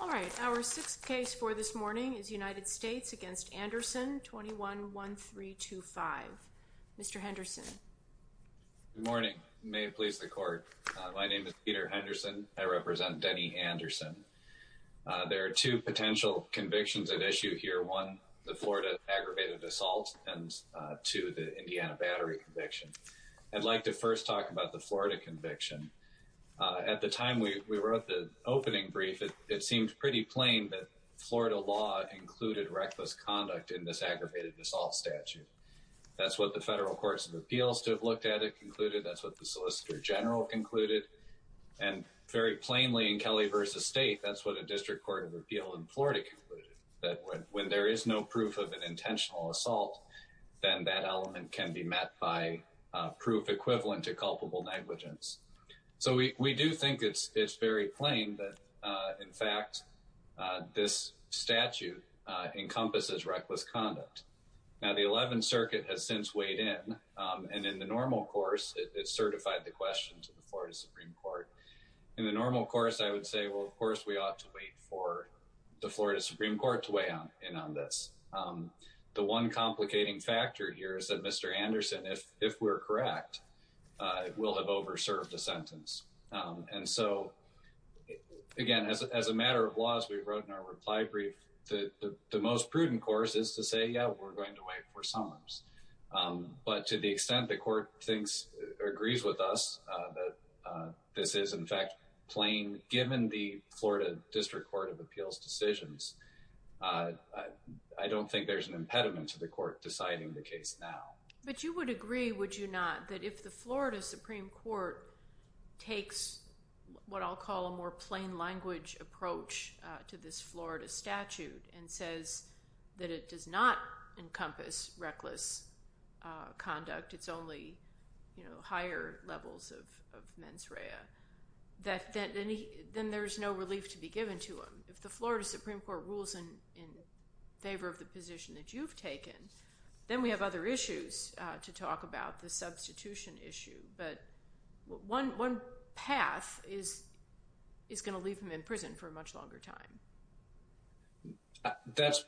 All right, our sixth case for this morning is United States v. Anderson, 21-1325. Mr. Henderson. Good morning. May it please the court. My name is Peter Henderson. I represent Denny Anderson. There are two potential convictions at issue here. One, the Florida aggravated assault and two, the Indiana battery conviction. I'd like to first talk about the Florida conviction. At the time we wrote the opening brief, it seemed pretty plain that Florida law included reckless conduct in this aggravated assault statute. That's what the federal courts of appeals to have looked at it concluded. That's what the solicitor general concluded. And very plainly in Kelly v. State, that's what a district court of appeal in Florida concluded, that when there is no proof of an intentional assault, then that element can be met by proof equivalent to culpable negligence. So we do think it's very plain that, in fact, this statute encompasses reckless conduct. Now, the 11th Circuit has since weighed in, and in the normal course, it certified the question to the Florida Supreme Court. In the normal course, I would say, well, of course, we ought to wait for the Florida Supreme Court to weigh in on this. The one complicating factor here is that Mr. Anderson, if we're correct, will have over-served the sentence. And so, again, as a matter of law, as we wrote in our reply brief, the most prudent course is to say, yeah, we're going to wait for summons. But to the extent the court thinks or agrees with us that this is, in fact, plain given the Florida District Court of Appeals decisions, I don't think there's an impediment to the court deciding the case now. But you would agree, would you not, that if the Florida Supreme Court takes what I'll call a more plain language approach to this Florida statute and says that it does not encompass reckless conduct, it's only higher levels of mens rea, then there's no relief to be given to him. If the Florida Supreme Court rules in favor of the position that you've taken, then we have other issues to talk about, the substitution issue. But one path is going to leave him in prison for a much longer time. That's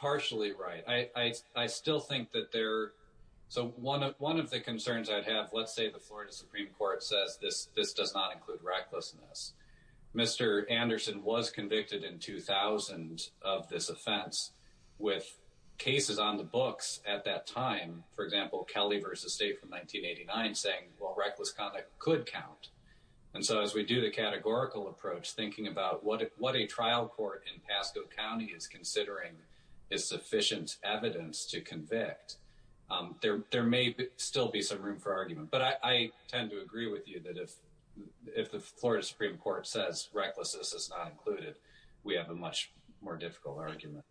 partially right. I still think that there, so one of the concerns I'd have, let's say the Florida Supreme Court says this does not include recklessness. Mr. Anderson was convicted in 2000 of this offense with cases on the books at that time, for example, Kelly v. State from 1989 saying, well, reckless conduct could count. And so as we do the categorical approach, thinking about what a trial court in Pasco County is considering is sufficient evidence to convict, there may still be some room for argument. But I tend to agree with you that if the Florida Supreme Court says recklessness is not included, we have a much more difficult argument.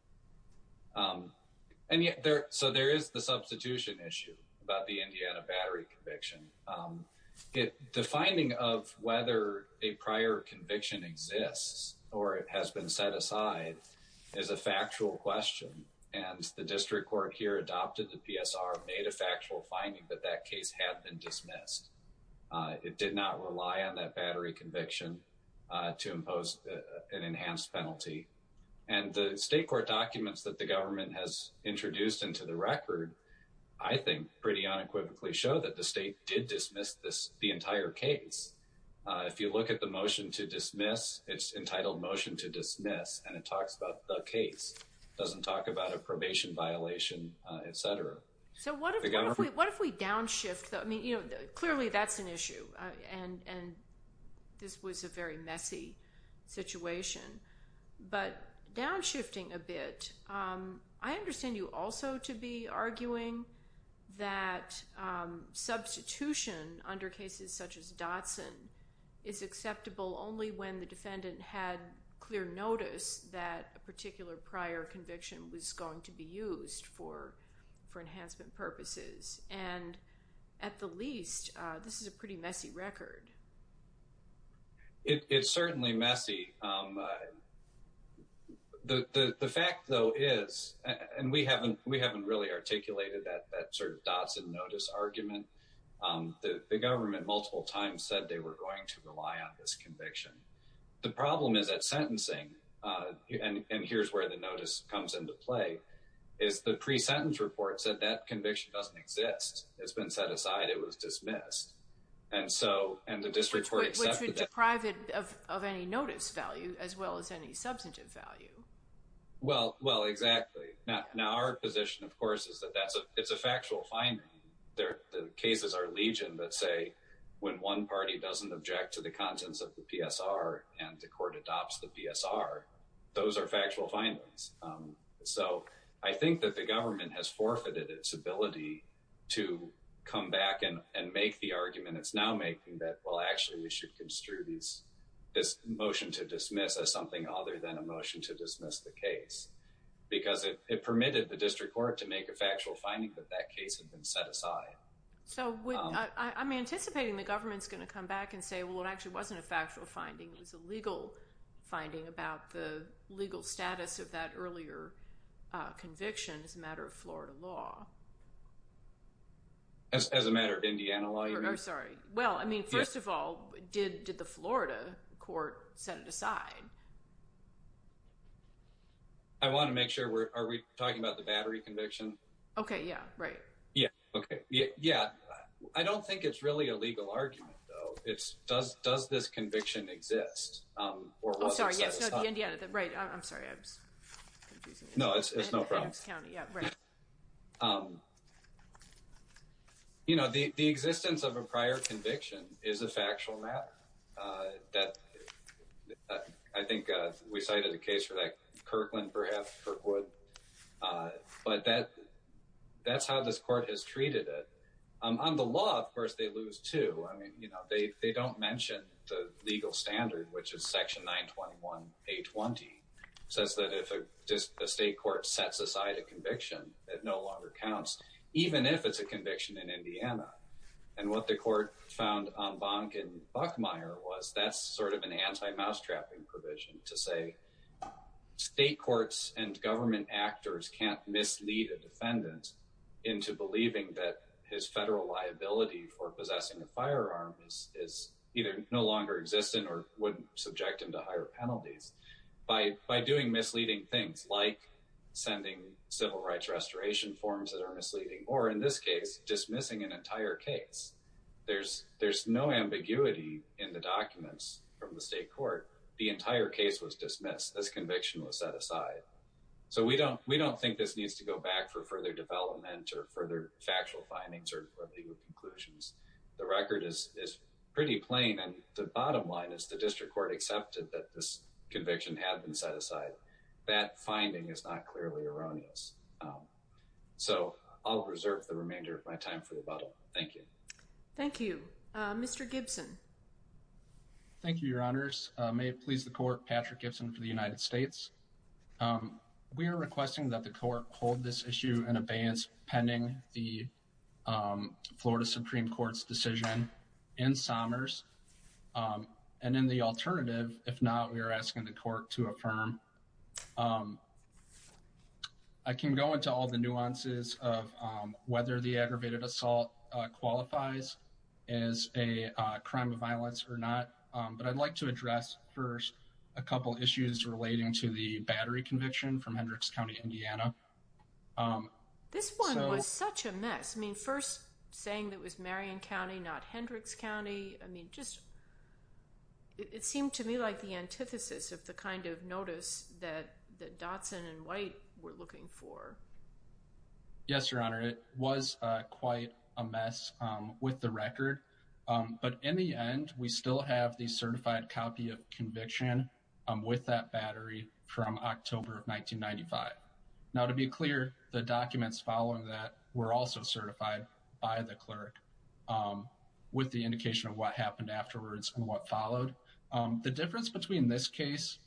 And yet, so there is the substitution issue about the Indiana battery conviction. The finding of whether a prior conviction exists or it has been set aside is a factual question. And the district court here adopted the PSR, made a factual finding that that case had been dismissed. It did not rely on that battery conviction to impose an enhanced penalty. And the state court documents that the government has pretty unequivocally show that the state did dismiss this, the entire case. If you look at the motion to dismiss, it's entitled motion to dismiss, and it talks about the case. It doesn't talk about a probation violation, et cetera. So what if we downshift though? I mean, clearly that's an issue and this was a very messy situation, but downshifting a bit. I understand you also to be arguing that substitution under cases such as Dotson is acceptable only when the defendant had clear notice that a particular prior conviction was going to be used for enhancement purposes. And at the least, this is a pretty messy record. It's certainly messy. The fact though is, and we haven't really articulated that sort of Dotson notice argument. The government multiple times said they were going to rely on this conviction. The problem is that sentencing, and here's where the notice comes into play, is the pre-sentence report said that conviction doesn't exist. It's been set aside, it was dismissed. And so, and the district court accepted that. Which would deprive it of any notice value as well as any substantive value. Well, exactly. Now our position, of course, is that it's a factual finding. The cases are legion that say when one party doesn't object to the contents of the PSR and the court adopts the PSR, those are factual findings. So I think that the government has it's now making that, well actually we should construe this motion to dismiss as something other than a motion to dismiss the case. Because it permitted the district court to make a factual finding that that case had been set aside. So I'm anticipating the government's going to come back and say, well it actually wasn't a factual finding, it was a legal finding about the legal status of that earlier conviction as a matter of Florida law. As a matter of Indiana law, you mean? Sorry. Well, I mean, first of all, did the Florida court set it aside? I want to make sure we're, are we talking about the battery conviction? Okay, yeah, right. Yeah, okay. Yeah, I don't think it's really a legal argument though. It's does this conviction exist? Or was it set aside? Oh, sorry, yeah, so the Indiana, right, I'm sorry, I'm confusing you. No, it's no problem. County, yeah, right. You know, the existence of a prior conviction is a factual matter. I think we cited a case for that, Kirkland perhaps, Kirkwood, but that's how this court has treated it. On the law, of course, they lose too. I mean, you know, they don't mention the legal standard, which is section 921A20, says that if a state court sets aside a conviction, it no longer counts, even if it's a conviction in Indiana. And what the court found on Bonk and Buckmeyer was that's sort of an anti-mouse trapping provision to say state courts and government actors can't mislead a defendant into believing that his federal liability for possessing a firearm is either no longer existent or wouldn't subject him to higher penalties. By doing misleading things like sending civil rights restoration forms that are misleading, or in this case, dismissing an entire case, there's no ambiguity in the documents from the state court. The entire case was dismissed. This conviction was set aside. So we don't think this needs to go back for further development or further The record is pretty plain, and the bottom line is the district court accepted that this conviction had been set aside. That finding is not clearly erroneous. So I'll reserve the remainder of my time for the bottle. Thank you. Thank you. Mr. Gibson. Thank you, Your Honors. May it please the court, Patrick Gibson for the United States. We are requesting that the court hold this issue in abeyance pending the Florida Supreme Court's decision in Somers, and in the alternative, if not, we are asking the court to affirm. I can go into all the nuances of whether the aggravated assault qualifies as a crime of violence or not, but I'd like to address first a couple issues relating to the battery conviction from Hendricks County, Indiana. Um, this one was such a mess. I mean, first saying that was Marion County, not Hendricks County. I mean, just it seemed to me like the antithesis of the kind of notice that that Dotson and White were looking for. Yes, Your Honor. It was quite a mess with the record, but in the end, we still have the certified copy of conviction with that battery from October of 1995. Now, to be clear, the documents following that were also certified by the clerk with the indication of what happened afterwards and what followed. The difference between this case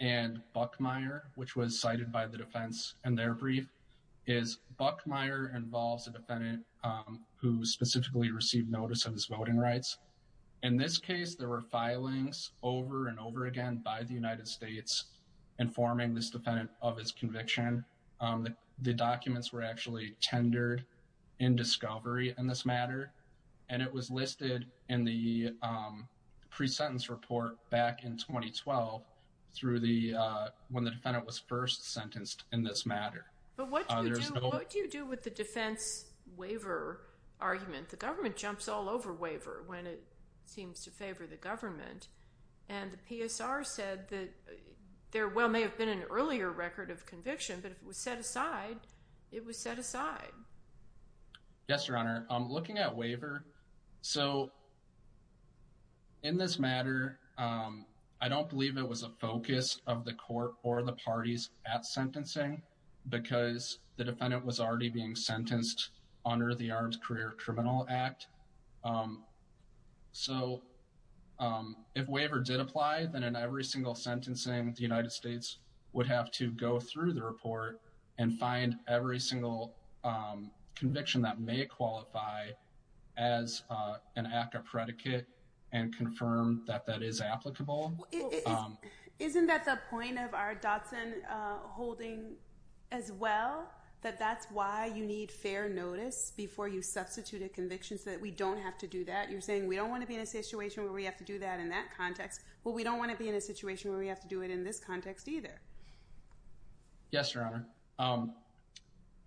and Buckmeyer, which was cited by the defense in their brief, is Buckmeyer involves a defendant who specifically received notice of his voting rights. In this case, there were filings over and over again by the United States informing this defendant of his conviction. The documents were actually tendered in discovery in this matter, and it was listed in the pre-sentence report back in 2012 through the, when the defendant was first sentenced in this matter. But what do you do with the defense waiver argument? The government jumps all over waiver when it seems to favor the government, and the PSR said that there well may have been an earlier record of conviction, but if it was set aside, it was set aside. Yes, Your Honor. Looking at waiver, so in this matter, I don't believe it was a focus of the court or the parties at sentencing because the defendant was already being sentenced under the Armed Career Criminal Act. So if waiver did apply, then in every single sentencing, the United States would have to go through the report and find every single conviction that may qualify as an ACCA predicate and confirm that that is applicable. Isn't that the point of fair notice before you substitute a conviction so that we don't have to do that? You're saying we don't want to be in a situation where we have to do that in that context. Well, we don't want to be in a situation where we have to do it in this context either. Yes, Your Honor.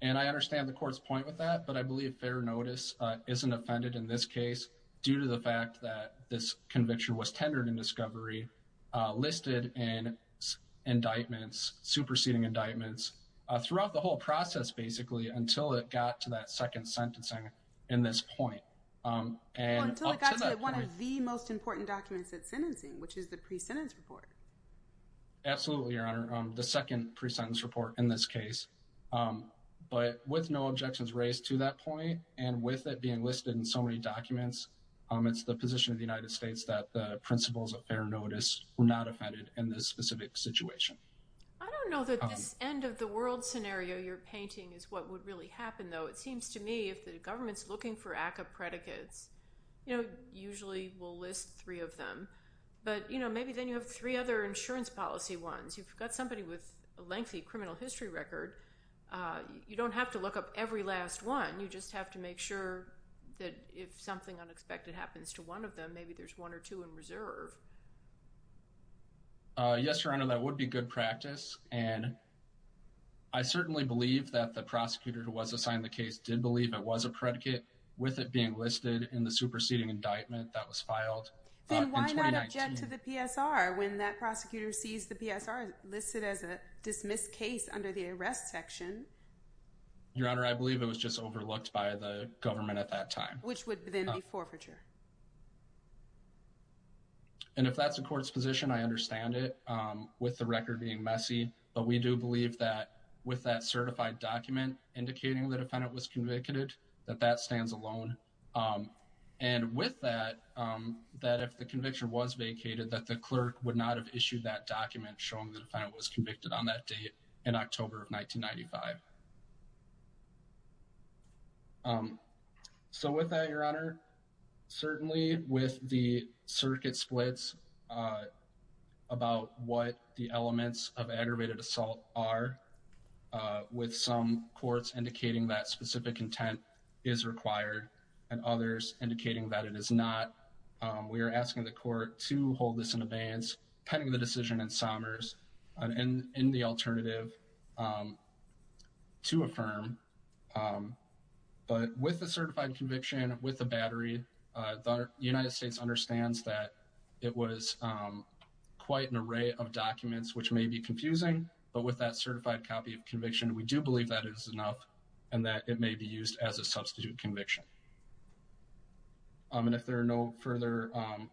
And I understand the court's point with that, but I believe fair notice isn't offended in this case due to the fact that this conviction was tendered in discovery, listed in indictments, superseding indictments throughout the whole process, basically, until it got to that second sentencing in this point. Well, until it got to one of the most important documents at sentencing, which is the pre-sentence report. Absolutely, Your Honor. The second pre-sentence report in this case. But with no objections raised to that point and with it being listed in so many documents, it's the position of the United States that the principles of fair notice were not offended in this specific situation. I don't know that this end-of-the-world scenario you're painting is what would really happen, though. It seems to me if the government's looking for ACCA predicates, you know, usually we'll list three of them. But, you know, maybe then you have three other insurance policy ones. You've got somebody with a lengthy criminal history record. You don't have to look up every last one. You just have to make sure that if something unexpected happens to one of them, maybe there's one or two in reserve. Yes, Your Honor, that would be good practice. And I certainly believe that the prosecutor who was assigned the case did believe it was a predicate, with it being listed in the superseding indictment that was filed in 2019. Then why not object to the PSR when that prosecutor sees the PSR listed as a dismissed case under the arrest section? Your Honor, I believe it was just overlooked by the government at that time. Which would then be forfeiture. And if that's the court's position, I understand it, with the record being messy. But we do believe that with that certified document indicating the defendant was convicted, that that stands alone. And with that, that if the conviction was vacated, that the clerk would not have issued that document showing the defendant was convicted on that date in October of 1995. So with that, Your Honor, certainly with the circuit splits about what the elements of aggravated assault are, with some courts indicating that specific intent is required, and others indicating that it is not, we are asking the court to hold this in abeyance, pending the decision in Somers, and in the alternative to affirm. But with the certified conviction, with the battery, the United States understands that it was quite an array of documents which may be confusing. But with that certified copy of conviction, we do believe that it is enough, and that it may be used as a substitute conviction. And if there are no further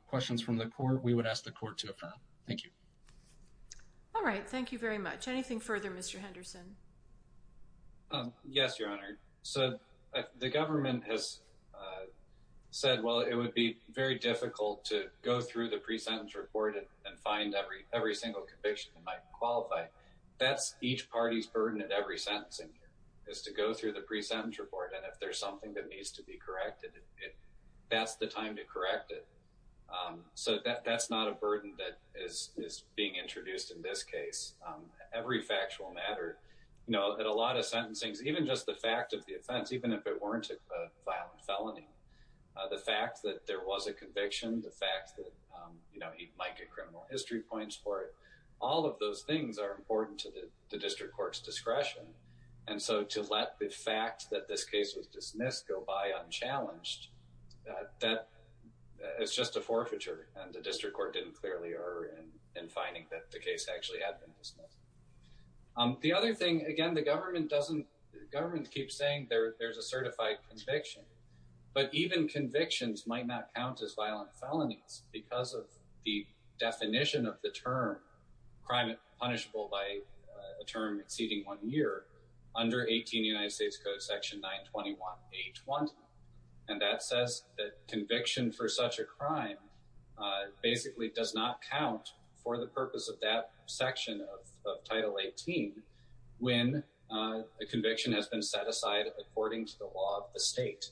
questions from the court, we would ask the court to affirm. Thank you. All right. Thank you very much. Anything further, Mr. Henderson? Yes, Your Honor. So the government has said, well, it would be very difficult to go through the pre-sentence report and find every single conviction that might qualify. That's each party's burden at every sentencing hearing, is to go through the pre-sentence report. And if there's something that needs to be corrected, that's the time to correct it. So that's not a burden that is being introduced in this case. Every factual matter, you know, at a lot of sentencings, even just the fact of the offense, even if it weren't a violent felony, the fact that there was a conviction, the fact that, you know, he might get criminal history points for it, all of those things are important to the district court's discretion. And so to let the fact that this case was dismissed go by unchallenged, that it's just a forfeiture. And the district court didn't clearly err in finding that the case actually had been dismissed. The other thing, again, the government doesn't, the government keeps saying there's a certified conviction, but even convictions might not count as violent felonies because of the definition of the term crime punishable by a term exceeding one year under 18 United States Code Section 921-820. And that says that conviction for such a crime basically does not count for the purpose of that section of Title 18 when a conviction has been set aside according to the law of the state.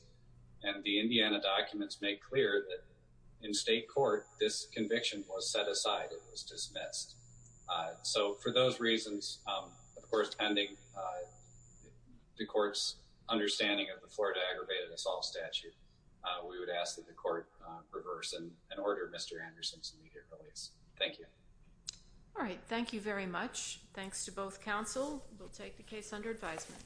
And the Indiana documents make clear that in state court, this conviction was set aside, it was dismissed. So for those reasons, of course, pending the court's understanding of the Florida aggravated assault statute, we would ask that the court reverse and order Mr. Anderson's immediate release. Thank you. All right. Thank you very much. Thanks to both counsel. We'll take the case under advisement.